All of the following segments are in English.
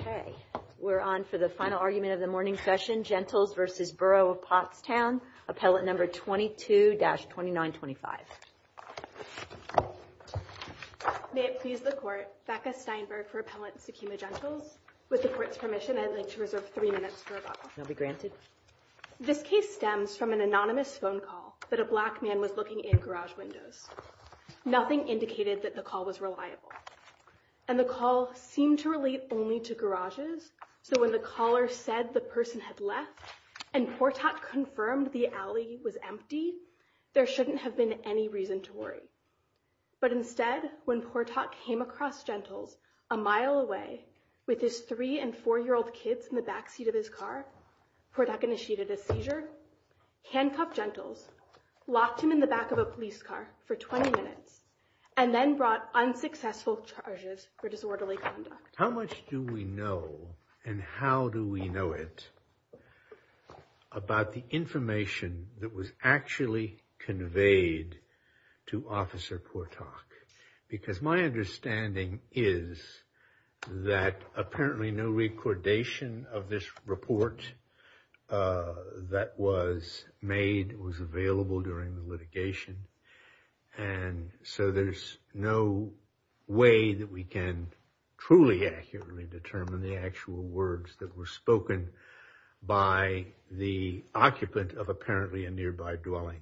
Okay, we're on for the final argument of the morning session, Gentles v. Borough of Pottstown, appellate number 22-2925. May it please the Court, Becca Steinberg for Appellant Sekema Gentles. With the Court's permission, I'd like to reserve three minutes for rebuttal. You'll be granted. This case stems from an anonymous phone call that a black man was looking in garage windows. Nothing indicated that the call was reliable. And the call seemed to relate only to garages. So when the caller said the person had left and Portak confirmed the alley was empty, there shouldn't have been any reason to worry. But instead, when Portak came across Gentles a mile away with his three and four-year-old kids in the backseat of his car, Portak initiated a seizure, handcuffed Gentles, locked him in the back of a police car for 20 minutes, and then brought unsuccessful charges for disorderly conduct. How much do we know and how do we know it about the information that was actually conveyed to Officer Portak? Because my understanding is that apparently no recordation of this report that was made was available during the litigation. And so there's no way that we can truly accurately determine the actual words that were spoken by the occupant of apparently a nearby dwelling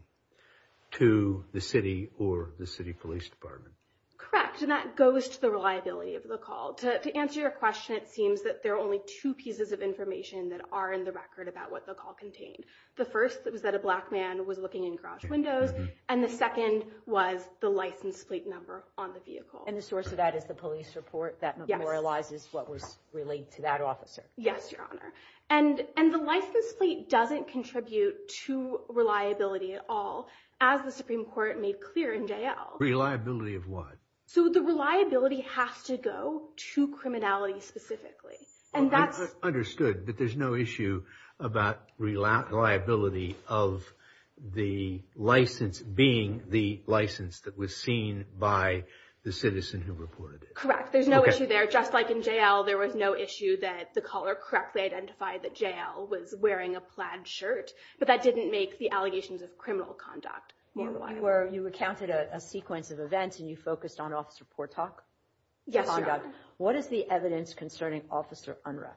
to the city or the city police department. Correct. And that goes to the reliability of the call. To answer your question, it seems that there are only two pieces of information that are in the record about what the call contained. The first was that a black man was looking in garage windows, and the second was the license plate number on the vehicle. And the source of that is the police report that memorializes what was relayed to that officer. Yes, Your Honor. And the license plate doesn't contribute to reliability at all, as the Supreme Court made clear in J.L. Reliability of what? So the reliability has to go to criminality specifically. I understood that there's no issue about reliability of the license being the license that was seen by the citizen who reported it. Correct. There's no issue there. Just like in J.L., there was no issue that the caller correctly identified that J.L. was wearing a plaid shirt, but that didn't make the allegations of criminal conduct more reliable. You recounted a sequence of events and you focused on Officer Portak's conduct. Yes, Your Honor. What is the evidence concerning Officer Unruh?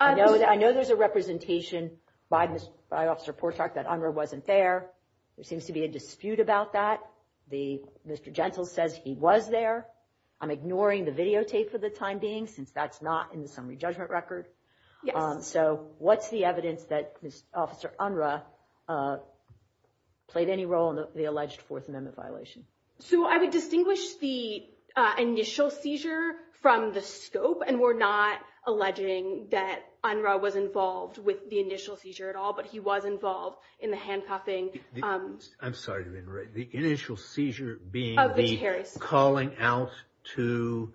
I know there's a representation by Officer Portak that Unruh wasn't there. There seems to be a dispute about that. Mr. Gentle says he was there. I'm ignoring the videotape for the time being since that's not in the summary judgment record. So what's the evidence that Officer Unruh played any role in the alleged Fourth Amendment violation? So I would distinguish the initial seizure from the scope. And we're not alleging that Unruh was involved with the initial seizure at all, but he was involved in the handcuffing. I'm sorry, the initial seizure being the calling out to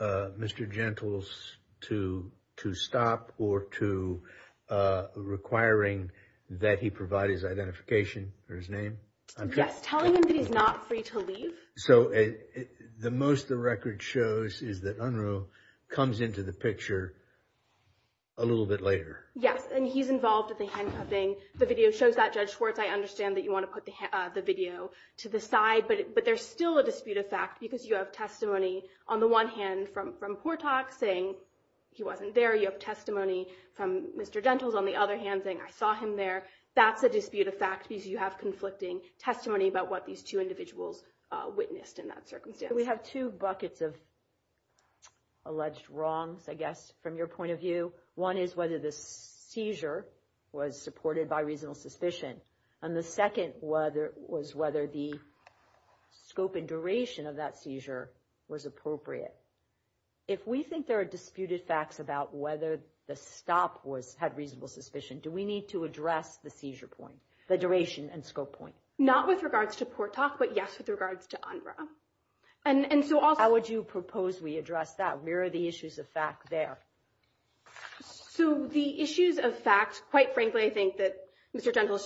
Mr. Gentle's to stop or to requiring that he provide his identification or his name. I'm just telling him that he's not free to leave. So the most the record shows is that Unruh comes into the picture a little bit later. Yes, and he's involved with the handcuffing. The video shows that, Judge Schwartz. I understand that you want to put the video to the side, but there's still a dispute of fact because you have testimony on the one hand from Portak saying he wasn't there. You have testimony from Mr. Gentle's on the other hand saying I saw him there. That's a dispute of fact because you have conflicting testimony about what these two individuals witnessed in that circumstance. We have two buckets of alleged wrongs, I guess, from your point of view. One is whether the seizure was supported by reasonable suspicion, and the second was whether the scope and duration of that seizure was appropriate. If we think there are disputed facts about whether the stop had reasonable suspicion, do we need to address the seizure point, the duration and scope point? Not with regards to Portak, but yes, with regards to Unruh. How would you propose we address that? Where are the issues of fact there? So the issues of fact, quite frankly, I think that Mr. Gentle,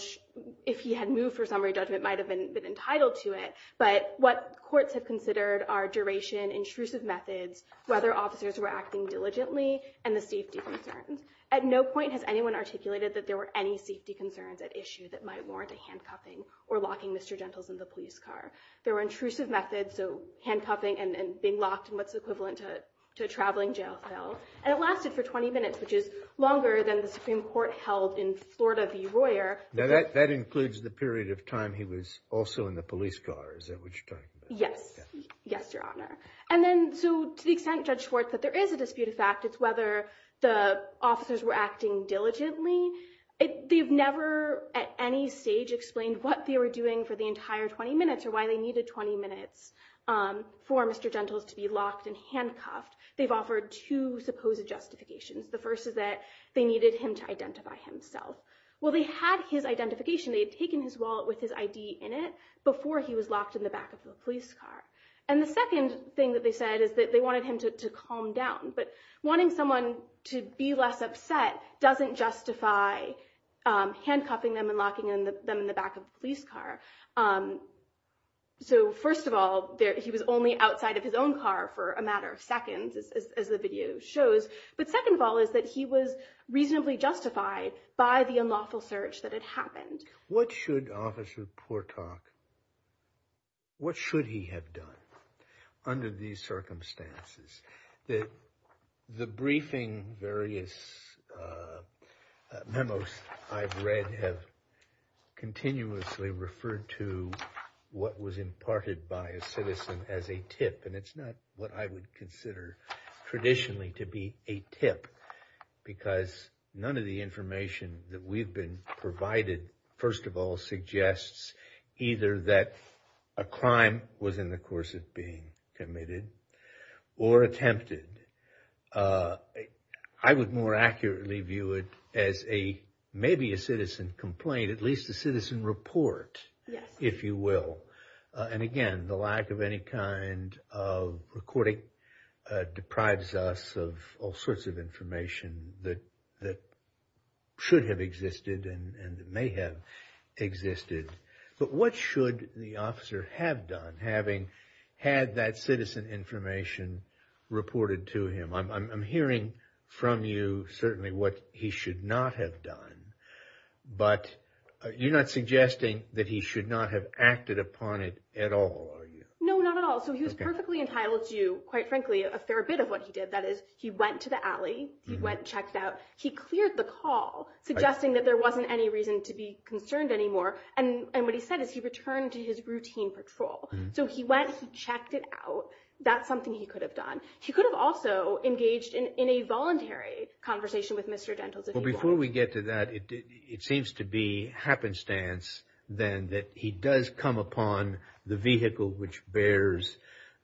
if he had moved for summary judgment, might have been entitled to it. But what courts have considered are duration, intrusive methods, whether officers were acting diligently, and the safety concerns. At no point has anyone articulated that there were any safety concerns at issue that might warrant a handcuffing or locking Mr. Gentle's in the police car. There were intrusive methods, so handcuffing and being locked in what's equivalent to a traveling jail cell. And it lasted for 20 minutes, which is longer than the Supreme Court held in Florida v. Royer. Now, that includes the period of time he was also in the police car, is that what you're talking about? Yes. Yes, Your Honor. And then, so to the extent, Judge Schwartz, that there is a disputed fact, it's whether the officers were acting diligently. They've never at any stage explained what they were doing for the entire 20 minutes or why they needed 20 minutes for Mr. Gentle to be locked and handcuffed. They've offered two supposed justifications. The first is that they needed him to identify himself. Well, they had his identification. They had taken his wallet with his ID in it before he was locked in the back of the police car. And the second thing that they said is that they wanted him to calm down. But wanting someone to be less upset doesn't justify handcuffing them and locking them in the back of the police car. So, first of all, he was only outside of his own car for a matter of seconds, as the video shows. But second of all is that he was reasonably justified by the unlawful search that had happened. What should Officer Portock, what should he have done under these circumstances that the briefing various memos I've read have continuously referred to what was imparted by a citizen as a tip. And it's not what I would consider traditionally to be a tip because none of the information that we've been provided, first of all, suggests either that a crime was in the course of being committed or attempted. I would more accurately view it as maybe a citizen complaint, at least a citizen report, if you will. And again, the lack of any kind of recording deprives us of all sorts of information that should have existed and may have existed. But what should the officer have done having had that citizen information reported to him? I'm hearing from you certainly what he should not have done. But you're not suggesting that he should not have acted upon it at all, are you? No, not at all. So he was perfectly entitled to, quite frankly, a fair bit of what he did. That is, he went to the alley. He went and checked out. He cleared the call, suggesting that there wasn't any reason to be concerned anymore. And what he said is he returned to his routine patrol. So he went, he checked it out. That's something he could have done. He could have also engaged in a voluntary conversation with Mr. Dentals if he wanted. Well, before we get to that, it seems to be happenstance, then, that he does come upon the vehicle which bears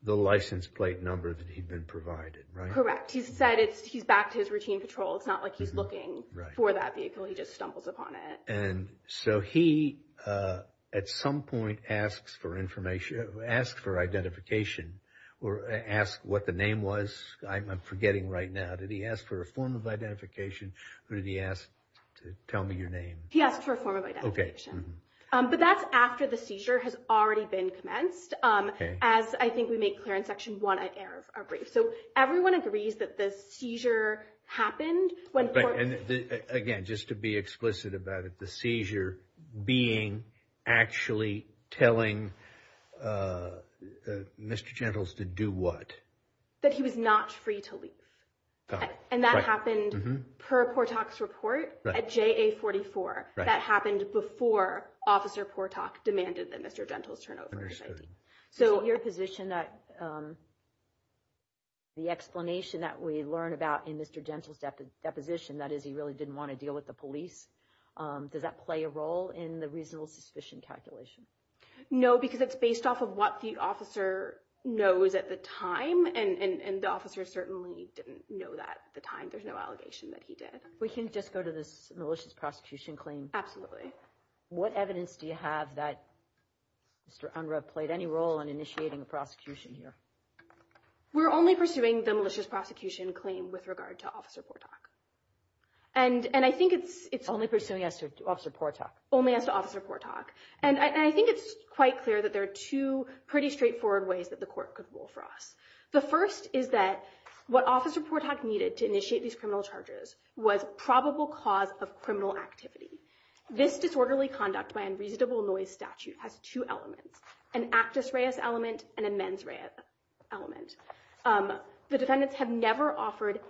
the license plate number that he'd been provided, right? Correct. He said he's back to his routine patrol. It's not like he's looking for that vehicle. He just stumbles upon it. And so he, at some point, asks for information, asks for identification, or asks what the name was. I'm forgetting right now. Did he ask for a form of identification? Or did he ask to tell me your name? He asked for a form of identification. But that's after the seizure has already been commenced, as I think we make clear in Section 1 of our brief. So everyone agrees that the seizure happened when... Again, just to be explicit about it, the seizure being actually telling Mr. Dentals to do what? That he was not free to leave. And that happened per Portak's report at JA44. That happened before Officer Portak demanded that Mr. Dentals turn over his ID. So your position that the explanation that we learn about in Mr. Dentals' deposition, that is he really didn't want to deal with the police, does that play a role in the reasonable suspicion calculation? No, because it's based off of what the officer knows at the time. And the officer certainly didn't know that at the time. There's no allegation that he did. We can just go to this malicious prosecution claim. What evidence do you have that Mr. Unruh played any role in initiating a prosecution here? We're only pursuing the malicious prosecution claim with regard to Officer Portak. And I think it's... Only pursuing as to Officer Portak. Only as to Officer Portak. And I think it's quite clear that there are two pretty straightforward ways that the court could rule for us. The first is that what Officer Portak needed to initiate these criminal charges was probable cause of criminal activity. This disorderly conduct by unreasonable noise statute has two elements. An actus reus element and a mens rea element. The defendants have never offered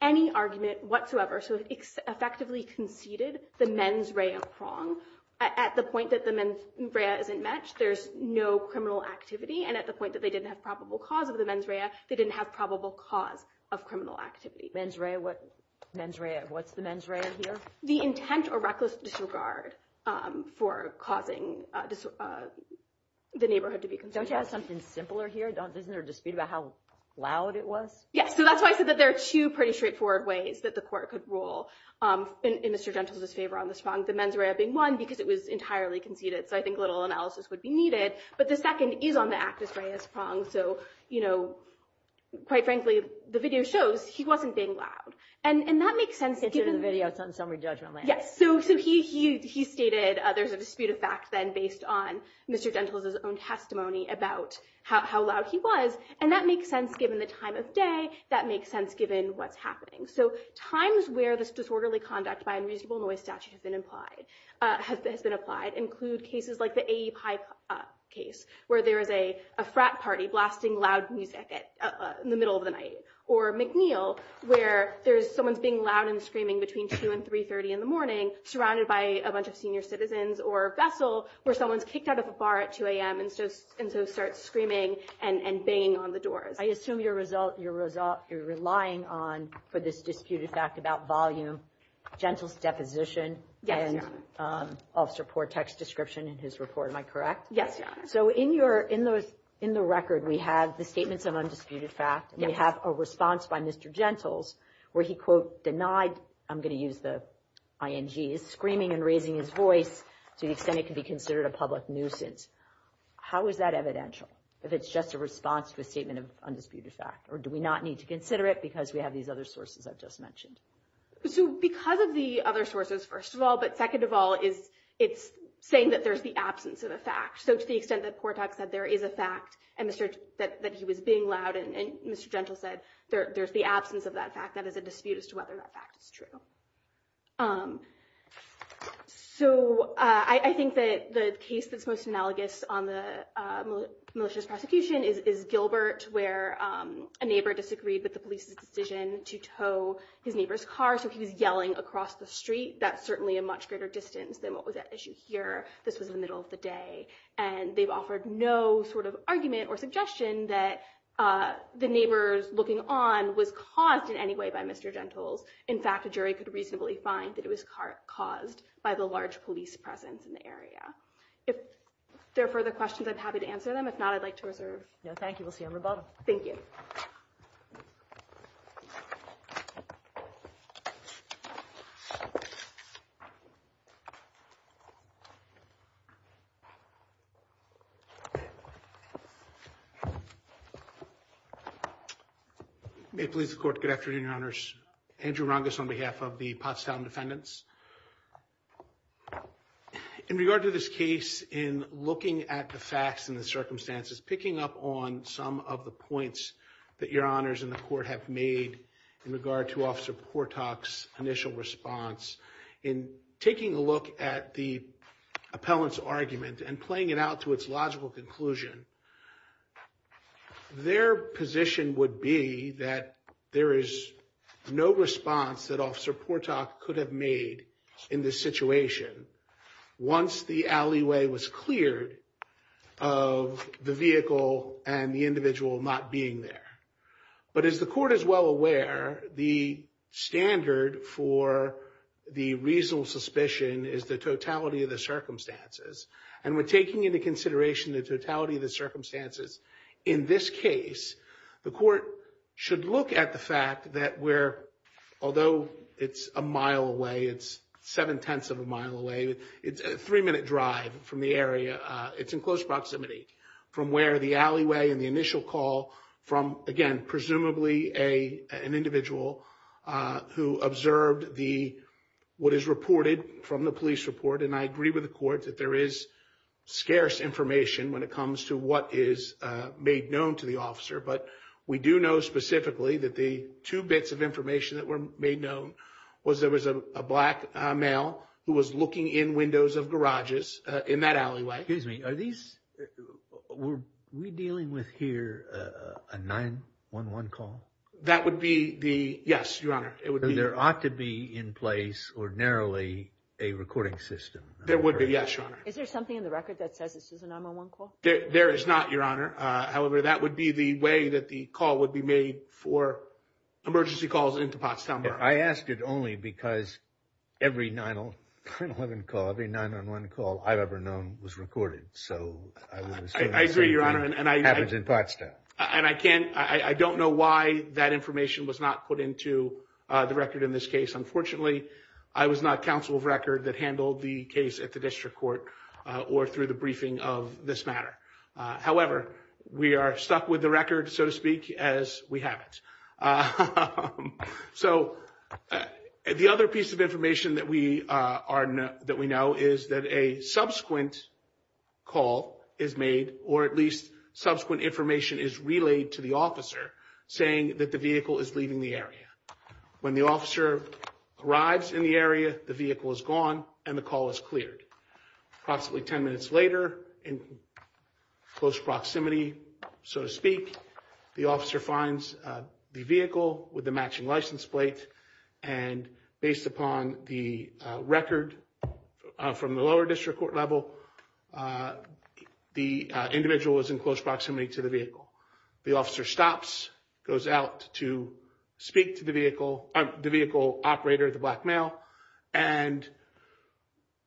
any argument whatsoever. So it's effectively conceded the mens rea wrong at the point that the mens rea isn't matched. There's no criminal activity. And at the point that they didn't have probable cause of the mens rea, they didn't have probable cause of criminal activity. Mens rea, what's the mens rea here? The intent or reckless disregard for causing the neighborhood to be concerned. Don't you have something simpler here? Isn't there a dispute about how loud it was? Yes. So that's why I said that there are two pretty straightforward ways that the court could rule in Mr. Gentles' favor on this wrong. The mens rea being one because it was entirely conceded. So I think a little analysis would be needed. But the second is on the actus reus wrong. So, you know, quite frankly, the video shows he wasn't being loud. And that makes sense. The video is on summary judgment. Yes. So he stated there's a dispute of fact then based on Mr. Gentles' own testimony about how loud he was. And that makes sense given the time of day. That makes sense given what's happening. So times where this disorderly conduct by unreasonable noise statute has been applied include cases like the A.E. High case where there is a frat party blasting loud music in the middle of the night or McNeil where there's someone's being loud and screaming between 2 and 3 30 in the morning, surrounded by a bunch of senior citizens or vessel where someone's kicked out of a bar at 2 a.m. And so and so start screaming and banging on the doors. I assume your result, your result, you're relying on for this disputed fact about volume, Gentles' deposition. Yes. And I'll support text description in his report. Am I correct? Yes. So in your in those in the record, we have the statements of undisputed fact. We have a response by Mr. Gentles where he, quote, denied. I'm going to use the I.N.G. is screaming and raising his voice to the extent it can be considered a public nuisance. How is that evidential if it's just a response to a statement of undisputed fact? Or do we not need to consider it because we have these other sources I've just mentioned? So because of the other sources, first of all, but second of all, is it's saying that there's the absence of a fact. So to the extent that Portak said there is a fact and that he was being loud and Mr. Gentles said there's the absence of that fact, that is a dispute as to whether that fact is true. So I think that the case that's most analogous on the malicious prosecution is Gilbert, where a neighbor disagreed with the police's decision to tow his neighbor's car. So he was yelling across the street. That's certainly a much greater distance than what was at issue here. This was in the middle of the day and they've offered no sort of argument or suggestion that the neighbors looking on was caused in any way by Mr. Gentles. In fact, a jury could reasonably find that it was caused by the large police presence in the area. If there are further questions, I'm happy to answer them. If not, I'd like to reserve. No, thank you. We'll see you on the bottom. Thank you. May it please the court. Good afternoon, your honors. Andrew Rungus on behalf of the Pottstown defendants. In regard to this case, in looking at the facts and the circumstances, picking up on some of the points that your honors and the court have made in regard to Officer Portak's initial response, in taking a look at the appellant's argument and playing it out to its logical conclusion, their position would be that there is no response that Officer Portak could have made in this situation once the alleyway was cleared of the vehicle and the individual not being there. But as the court is well aware, the standard for the reasonable suspicion is the totality of the circumstances. And we're taking into consideration the totality of the circumstances. In this case, the court should look at the fact that although it's a mile away, it's seven-tenths of a mile away, it's a three-minute drive from the area. It's in close proximity from where the alleyway and the initial call from, again, presumably an individual who observed what is reported from the police report. And I agree with the court that there is scarce information when it comes to what is made known to the officer. But we do know specifically that the two bits of information that were made known was there was a black male who was looking in windows of garages in that alleyway. Excuse me, are these, were we dealing with here a 911 call? That would be the, yes, your honor. There ought to be in place ordinarily a recording system. There would be, yes, your honor. Is there something in the record that says this is a 911 call? There is not, your honor. However, that would be the way that the call would be made for emergency calls into Potsdam. I asked it only because every 911 call, every 911 call I've ever known was recorded. I agree, your honor. It happens in Potsdam. And I can't, I don't know why that information was not put into the record in this case. Unfortunately, I was not counsel of record that handled the case at the district court or through the briefing of this matter. However, we are stuck with the record, so to speak, as we have it. So, the other piece of information that we know is that a subsequent call is made, or at least subsequent information is relayed to the officer saying that the vehicle is leaving the area. When the officer arrives in the area, the vehicle is gone and the call is cleared. Approximately 10 minutes later, in close proximity, so to speak, the officer finds the vehicle with the matching license plate, and based upon the record from the lower district court level, the individual is in close proximity to the vehicle. The officer stops, goes out to speak to the vehicle, the vehicle operator, the black male, and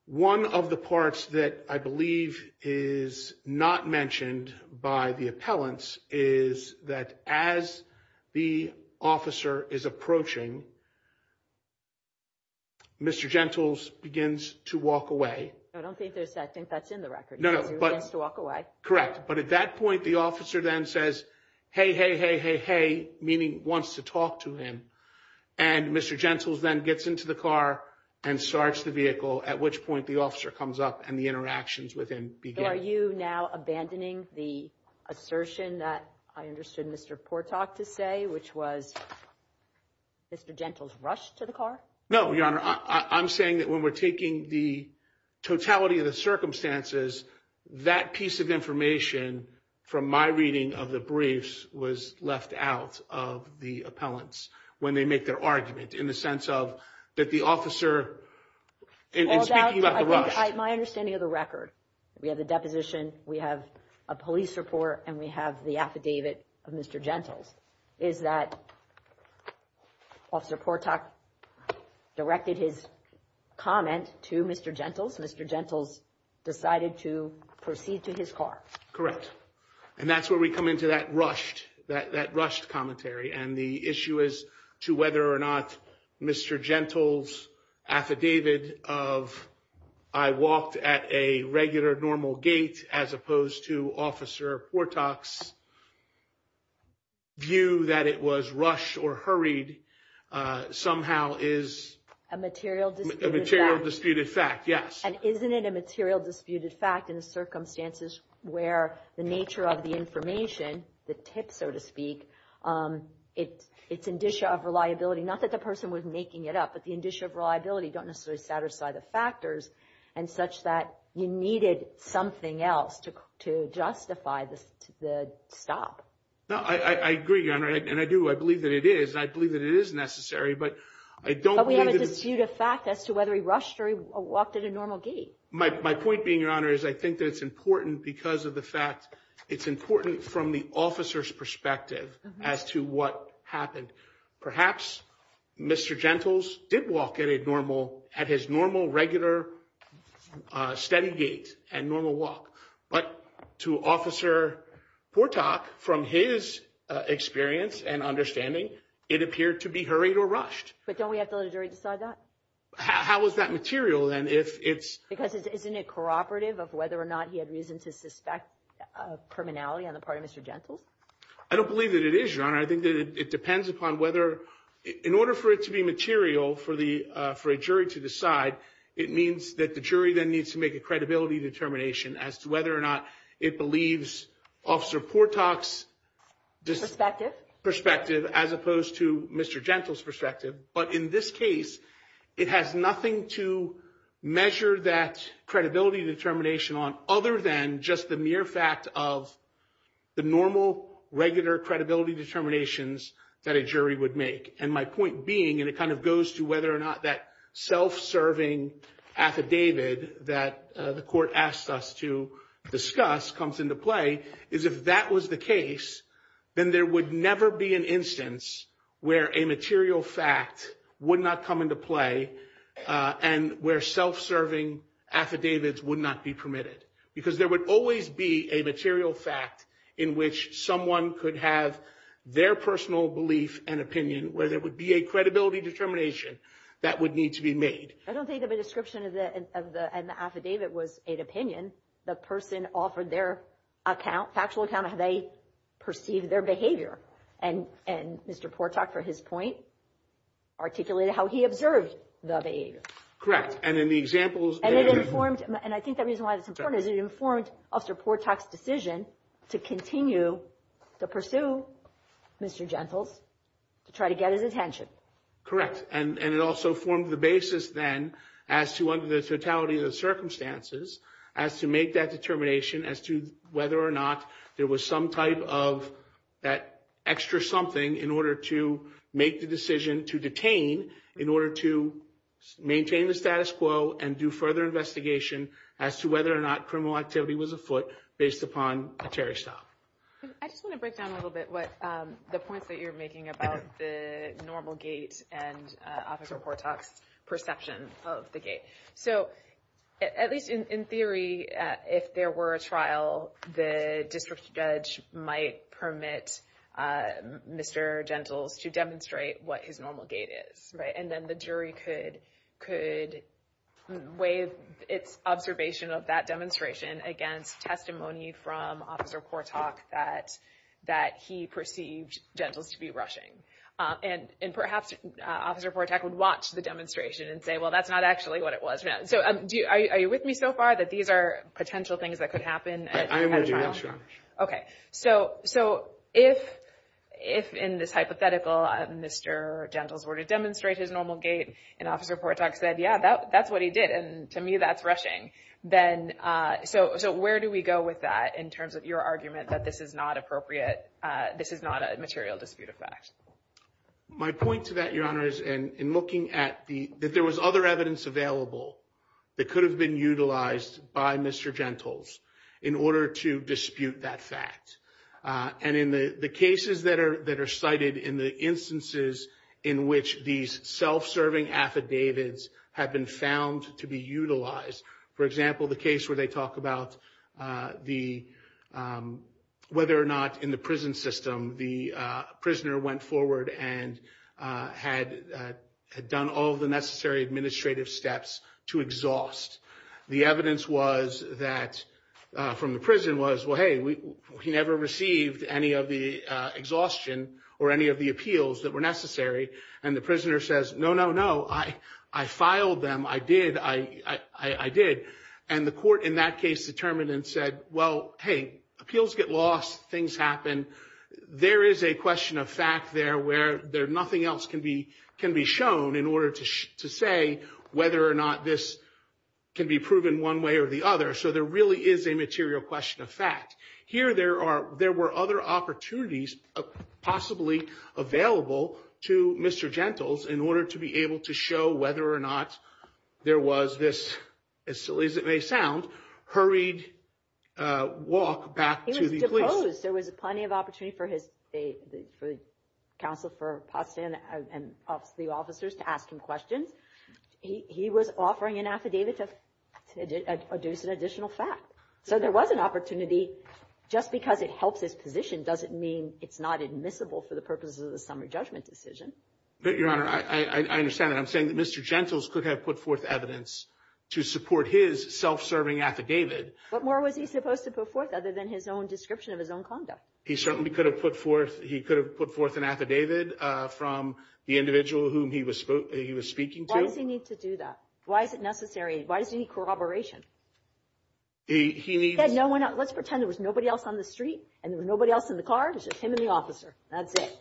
one of the parts that I believe is not mentioned by the appellants is that as the officer is approaching, Mr. Gentles begins to walk away. I don't think there's that. I think that's in the record. No, no. He begins to walk away. Correct. But at that point, the officer then says, Hey, hey, hey, hey, hey, meaning wants to talk to him. And Mr. Gentles then gets into the car and starts the vehicle, at which point the officer comes up and the interactions with him begin. Are you now abandoning the assertion that I understood Mr. Portak to say, which was Mr. Gentles rushed to the car? No, Your Honor. I'm saying that when we're taking the totality of the circumstances, that piece of information from my reading of the briefs was left out of the appellants when they make their argument in the sense of that the officer is speaking about the rush. My understanding of the record, we have the deposition, we have a police report, and we have the affidavit of Mr. Gentles, is that Officer Portak directed his comment to Mr. Gentles. Mr. Gentles decided to proceed to his car. Correct. And that's where we come into that rushed, that rushed commentary. And the issue is to whether or not Mr. Gentles' affidavit of I walked at a regular normal gate as opposed to Officer Portak's view that it was rushed or hurried somehow is a material disputed fact. And isn't it a material disputed fact in the circumstances where the nature of the information, the tip, so to speak, its indicia of reliability, not that the person was making it up, but the indicia of reliability don't necessarily satisfy the factors and such that you needed something else to justify the stop. No, I agree, Your Honor, and I do, I believe that it is. I believe that it is necessary, but I don't believe that... It's a dispute of fact as to whether he rushed or he walked at a normal gate. My point being, Your Honor, is I think that it's important because of the fact, it's important from the officer's perspective as to what happened. Perhaps Mr. Gentles did walk at a normal, at his normal regular steady gate and normal walk, but to Officer Portak, from his experience and understanding, it appeared to be hurried or rushed. But don't we have to let a jury decide that? How is that material then if it's... Because isn't it cooperative of whether or not he had reason to suspect criminality on the part of Mr. Gentles? I don't believe that it is, Your Honor. I think that it depends upon whether, in order for it to be material for a jury to decide, it means that the jury then needs to make a credibility determination as to whether or not it believes Officer Portak's... Perspective. Perspective, as opposed to Mr. Gentles' perspective. But in this case, it has nothing to measure that credibility determination on other than just the mere fact of the normal, regular credibility determinations that a jury would make. And my point being, and it kind of goes to whether or not that self-serving affidavit that the court asked us to discuss comes into play, is if that was the case, then there would never be an instance where a material fact would not come into play and where self-serving affidavits would not be permitted. Because there would always be a material fact in which someone could have their personal belief and opinion where there would be a credibility determination that would need to be made. I don't think of a description of the affidavit was an opinion. The person offered their factual account of how they perceived their behavior. And Mr. Portak, for his point, articulated how he observed the behavior. Correct. And in the examples... And it informed... And I think the reason why it's important is it informed Officer Portak's decision to continue to pursue Mr. Gentles to try to get his attention. Correct. And it also formed the basis then as to under the totality of the circumstances as to make that determination as to whether or not there was some type of that extra something in order to make the decision to detain in order to maintain the status quo and do further investigation as to whether or not criminal activity was afoot based upon a Terry style. I just want to break down a little bit the points that you're making about the normal gait and Officer Portak's perception of the gait. At least in theory, if there were a trial, the district judge might permit Mr. Gentles to demonstrate what his normal gait is. And then the jury could weigh its observation of that demonstration against testimony from Officer Portak that he perceived Gentles to be rushing. And perhaps Officer Portak would watch the demonstration and say, well, that's not actually what it was. Are you with me so far that these are potential things that could happen? I am with you, yes, Your Honor. Okay. So if in this hypothetical, Mr. Gentles were to demonstrate his normal gait and Officer Portak said, yeah, that's what he did. And to me, that's rushing. So where do we go with that in terms of your argument that this is not appropriate, this is not a material dispute of fact? My point to that, Your Honor, is in looking at that there was other evidence available that could have been utilized by Mr. Gentles in order to dispute that fact. And in the cases that are cited in the instances in which these self-serving affidavits have been found to be utilized, for example, the case where they talk about whether or not in the prison system the prisoner went forward and had done all of the necessary administrative steps to exhaust. The evidence from the prison was, well, hey, he never received any of the exhaustion or any of the appeals that were necessary. And the prisoner says, no, no, no, I filed them, I did. And the court in that case determined and said, well, hey, appeals get lost, things happen. There is a question of fact there where nothing else can be shown in order to say whether or not this can be proven one way or the other. So there really is a material question of fact. Here there were other opportunities possibly available to Mr. Gentles in order to be able to show whether or not there was this, as silly as it may sound, hurried walk back to the police. I suppose there was plenty of opportunity for the counsel for Potsdam and the officers to ask him questions. He was offering an affidavit to produce an additional fact. So there was an opportunity. Just because it helps his position doesn't mean it's not admissible for the purposes of the summary judgment decision. But, Your Honor, I understand that. I'm saying that Mr. Gentles could have put forth evidence to support his self-serving affidavit. What more was he supposed to put forth other than his own description of his own conduct? He certainly could have put forth an affidavit from the individual whom he was speaking to. Why does he need to do that? Why is it necessary? Why does he need corroboration? Let's pretend there was nobody else on the street and there was nobody else in the car. Just him and the officer. That's it.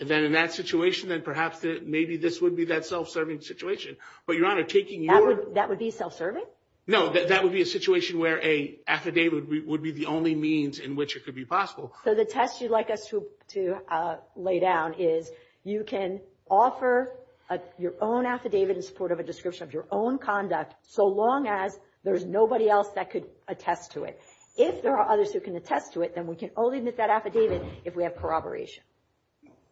Then in that situation, perhaps this would be that self-serving situation. That would be self-serving? No, that would be a situation where an affidavit would be the only means in which it could be possible. So the test you'd like us to lay down is you can offer your own affidavit in support of a description of your own conduct so long as there's nobody else that could attest to it. If there are others who can attest to it, then we can only admit that affidavit if we have corroboration.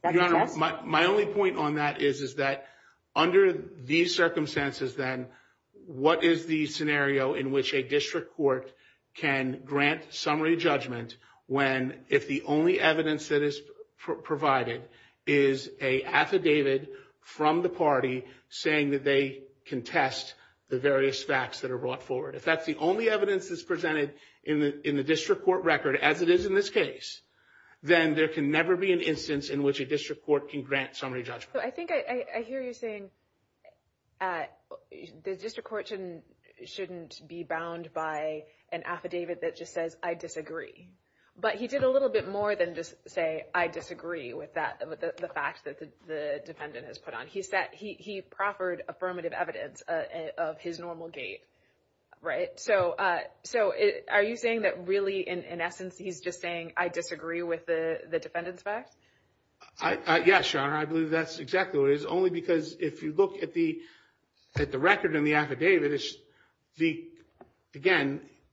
My only point on that is that under these circumstances, then, what is the scenario in which a district court can grant summary judgment when if the only evidence that is provided is an affidavit from the party saying that they contest the various facts that are brought forward. If that's the only evidence that's presented in the district court record, as it is in this case, then there can never be an instance in which a district court can grant summary judgment. I hear you saying the district court shouldn't be bound by an affidavit that just says, I disagree, but he did a little bit more than just say, I disagree with the fact that the defendant has put on. He proffered affirmative evidence of his normal gait. So are you saying that really, in essence, he's just saying, I disagree with the defendant's facts? Yes, your honor, I believe that's exactly what it is only because if you look at the record and the affidavit, the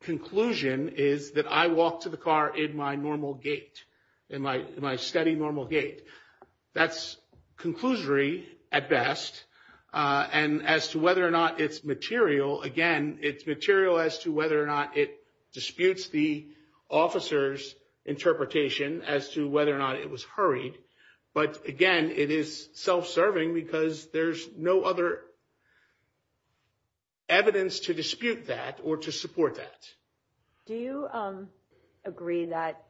conclusion is that I walked to the car in my normal gait, in my steady normal gait. That's conclusory at best as to whether or not it's material. Again, it's material as to whether or not it disputes the officer's interpretation as to whether or not it was hurried. But again, it is self-serving because there's no other evidence to dispute that or to support that. Do you agree that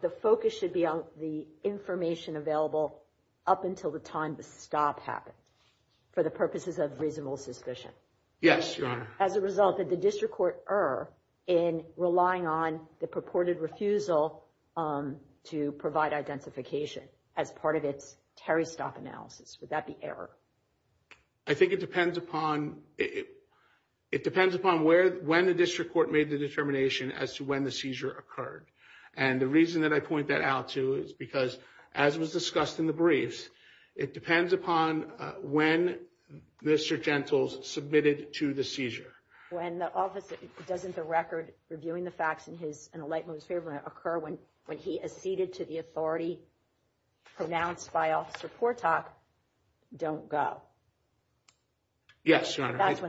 the focus should be on the information available up until the time the stop happened for the purposes of reasonable suspicion? Yes, your honor. As a result, did the district court err in relying on the purported refusal to provide identification as part of its Terry Stop analysis? Would that be error? I think it depends upon when the district court made the determination as to when the seizure occurred. And the reason that I point that out to is because, as was discussed in the briefs, it depends upon when Mr. Jentles submitted to the seizure. Doesn't the record reviewing the facts in a light-moving statement occur when he acceded to the authority pronounced by Officer Portock, don't go? Yes, your honor. That's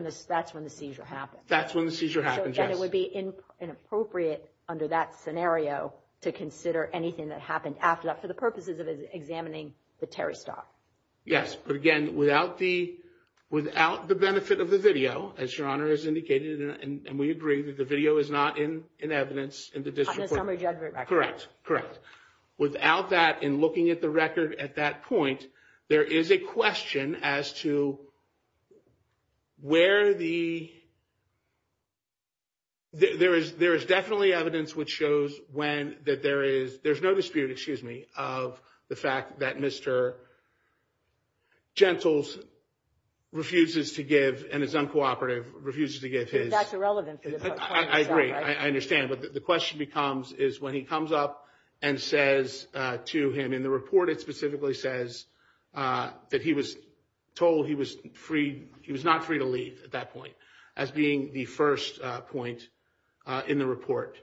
when the seizure happened. Then it would be inappropriate under that scenario to consider anything that happened after that for the purposes of examining the Terry Stop. Yes, but again, without the benefit of the video as your honor has indicated and we agree that the video is not in evidence in the district court. Without that, in looking at the record at that point there is a question as to where the there is definitely evidence which shows that there is no dispute of the fact that Mr. Jentles refuses to give and is uncooperative I agree, I understand but the question is when he comes up and says to him in the report that he was told he was not free to leave at that point as being the first point in the report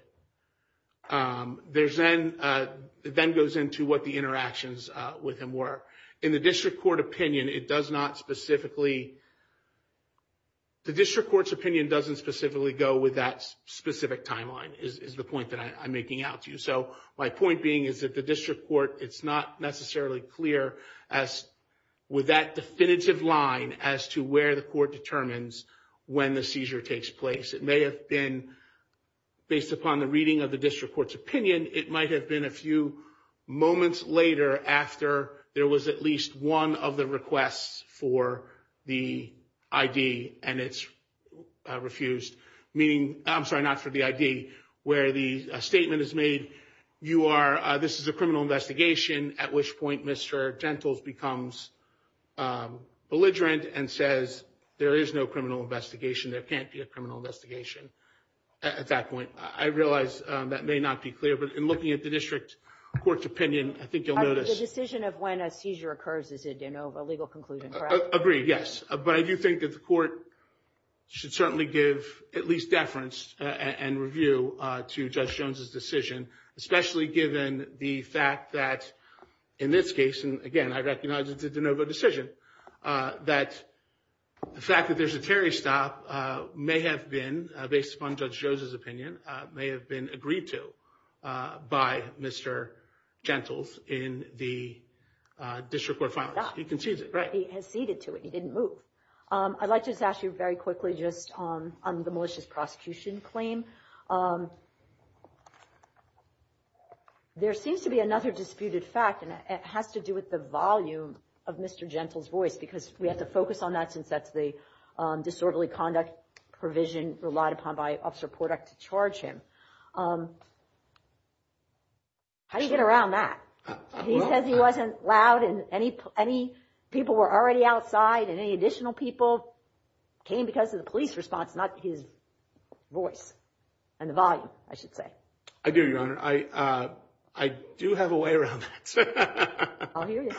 it then goes into what the interactions with him were in the district court opinion the district court's opinion doesn't specifically go with that specific timeline is the point that I'm making out to you so my point being is that the district court it's not necessarily clear with that definitive line as to where the court determines when the seizure takes place based upon the reading of the district court's opinion it might have been a few moments later after there was at least one of the requests for the ID and it's refused I'm sorry, not for the ID where the statement is made this is a criminal investigation at which point Mr. Jentles becomes belligerent and says there is no criminal investigation there can't be a criminal investigation at that point I realize that may not be clear but in looking at the district court's opinion I think you'll notice the decision of when a seizure occurs is a de novo legal conclusion I agree, yes, but I do think that the court should certainly give at least deference and review to Judge Jones' decision especially given the fact that in this case, and again I recognize it's a de novo decision that the fact that there's a Terry stop may have been, based upon Judge Jones' opinion may have been agreed to by Mr. Jentles in the district court filings he conceded to it, he didn't move I'd like to just ask you very quickly on the malicious prosecution claim there seems to be another disputed fact and it has to do with the volume of Mr. Jentles' voice because we have to focus on that since that's the disorderly conduct provision relied upon by Officer Porduck to charge him how do you get around that? He says he wasn't loud and people were already outside and any additional people came because of the police response, not his voice and the volume, I should say I do, Your Honor, I do have a way around that I'll hear you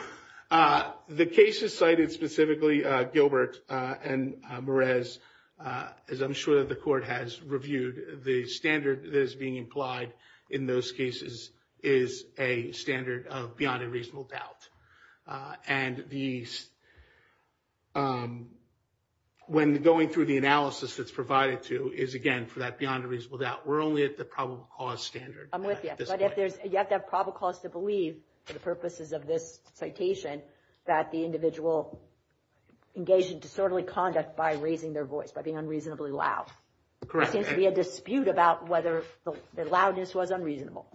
the cases cited specifically Gilbert and Merez, as I'm sure the court has reviewed, the standard that is being implied in those cases is a standard of beyond a reasonable doubt and the when going through the analysis that's provided to we're only at the probable cause standard I'm with you, but you have to have probable cause to believe for the purposes of this citation that the individual engaged in disorderly conduct by raising their voice, by being unreasonably loud there seems to be a dispute about whether the loudness was unreasonable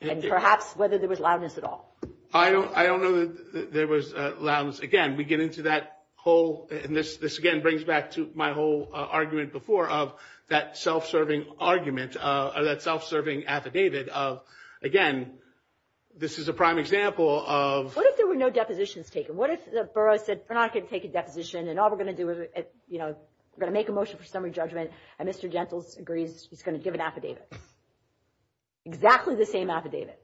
and perhaps whether there was loudness at all I don't know that there was loudness this again brings back to my whole argument before of that self-serving argument, that self-serving affidavit again, this is a prime example What if there were no depositions taken? What if the borough said we're not going to take a deposition we're going to make a motion for summary judgment and Mr. Gentles agrees he's going to give an affidavit exactly the same affidavit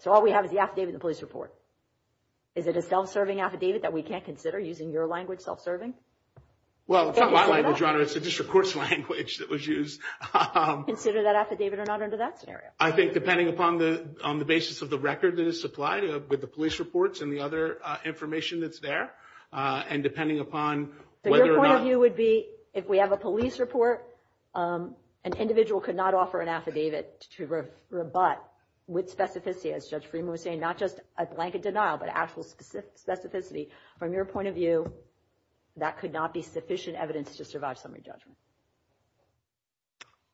So all we have is the affidavit and the police report Is it a self-serving affidavit that we can't consider using your language self-serving? It's a district court's language that was used Consider that affidavit or not under that scenario I think depending on the basis of the record that is supplied with the police reports and the other information that's there Your point of view would be if we have a police report an individual could not offer an affidavit to rebut with specificity as Judge Freeman was saying not just a blanket denial but actual specificity from your point of view that could not be sufficient evidence to survive summary judgment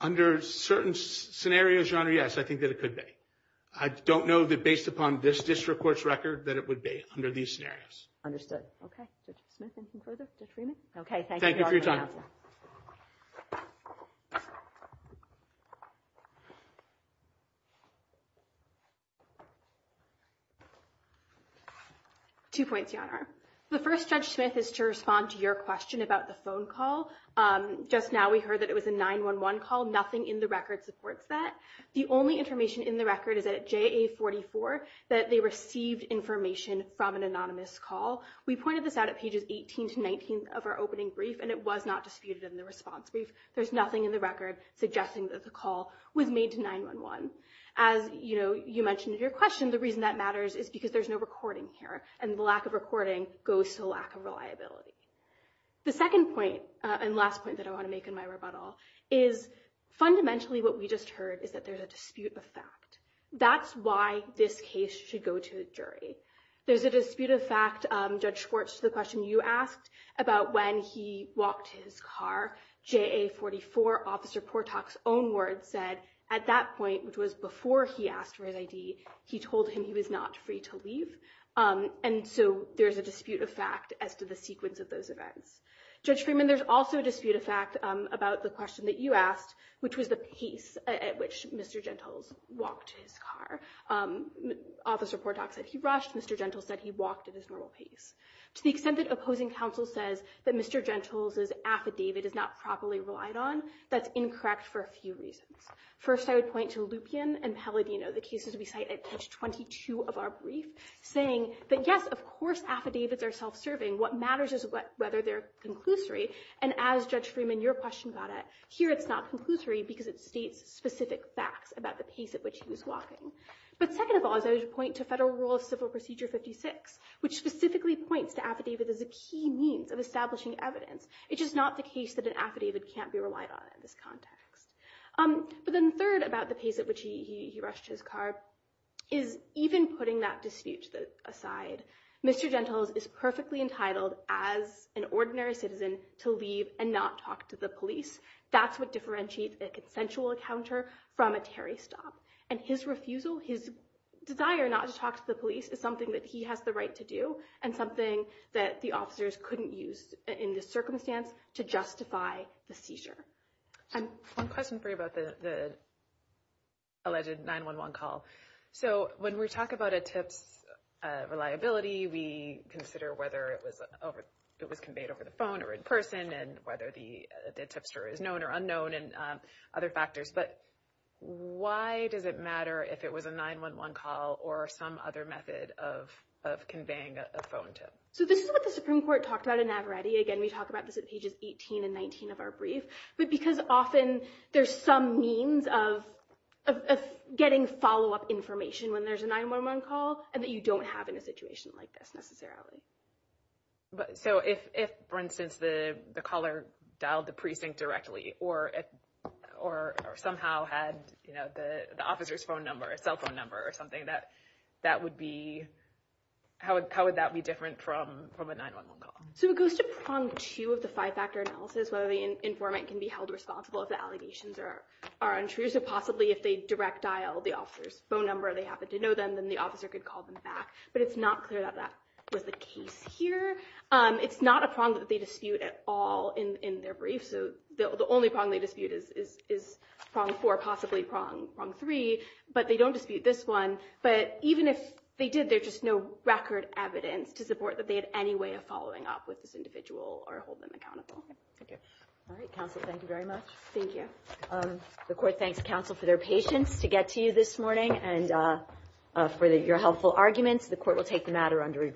Under certain scenarios Your Honor, yes, I think that it could be I don't know that based upon this district court's record that it would be under these scenarios Understood Thank you for your time Two points, Your Honor The first, Judge Smith, is to respond to your question about the phone call Just now we heard that it was a 911 call Nothing in the record supports that The only information in the record is that at JA44 that they received information from an anonymous call We pointed this out at pages 18-19 of our opening brief and it was not disputed in the response brief There's nothing in the record suggesting that the call was made to 911 As you mentioned in your question the reason that matters is because there's no recording here and the lack of recording goes to a lack of reliability The second point, and last point that I want to make in my rebuttal, is fundamentally what we just heard is that there's a dispute of fact That's why this case should go to a jury There's a dispute of fact, Judge Schwartz, to the question you asked about when he walked to his car JA44 Officer Portock's own words said at that point, which was before he asked for his ID he told him he was not free to leave and so there's a dispute of fact as to the sequence of those events Judge Freeman, there's also a dispute of fact about the question that you asked which was the pace at which Mr. Gentles walked to his car Officer Portock said he rushed Mr. Gentles said he walked at his normal pace To the extent that opposing counsel says that Mr. Gentles' affidavit is not properly relied on, that's incorrect for a few reasons First, I would point to Lupien and Palladino the cases we cite at page 22 of our brief saying that yes, of course affidavits are self-serving what matters is whether they're conclusory and as Judge Freeman, your question about it, here it's not conclusory because it states specific facts about the pace at which he was walking But second of all, I would point to Federal Rule of Civil Procedure 56 which specifically points to affidavit as a key means of establishing evidence It's just not the case that an affidavit can't be relied on in this context But then third about the pace at which he rushed to his car is even putting that dispute aside Mr. Gentles is perfectly entitled as an ordinary citizen to leave and not talk to the police That's what differentiates a consensual encounter from a Terry stop And his refusal, his desire not to talk to the police is something that he has the right to do and something that the officers couldn't use in this circumstance to justify the seizure One question for you about the alleged 911 call So when we talk about a tip's reliability we consider whether it was conveyed over the phone or in person and whether the tipster is known or unknown and other factors But why does it matter if it was a 911 call or some other method of conveying a phone tip? So this is what the Supreme Court talked about in Navaretti Again, we talk about this at pages 18 and 19 of our brief But because often there's some means of getting follow-up information when there's a 911 call and that you don't have in a situation like this necessarily So if, for instance, the caller dialed the precinct directly or somehow had the officer's phone number or cell phone number how would that be different from a 911 call? So it goes to prong two of the five-factor analysis whether the informant can be held responsible if the allegations are untrue So possibly if they direct dialed the officer's phone number and they happen to know them then the officer could call them back But it's not clear that that was the case here It's not a prong that they dispute at all in their brief So the only prong they dispute is prong four or possibly prong three But they don't dispute this one But even if they did, there's just no record evidence to support that they had any way of following up with this individual or holding them accountable The court thanks counsel for their patience to get to you this morning and for your helpful arguments The court will take the matter under review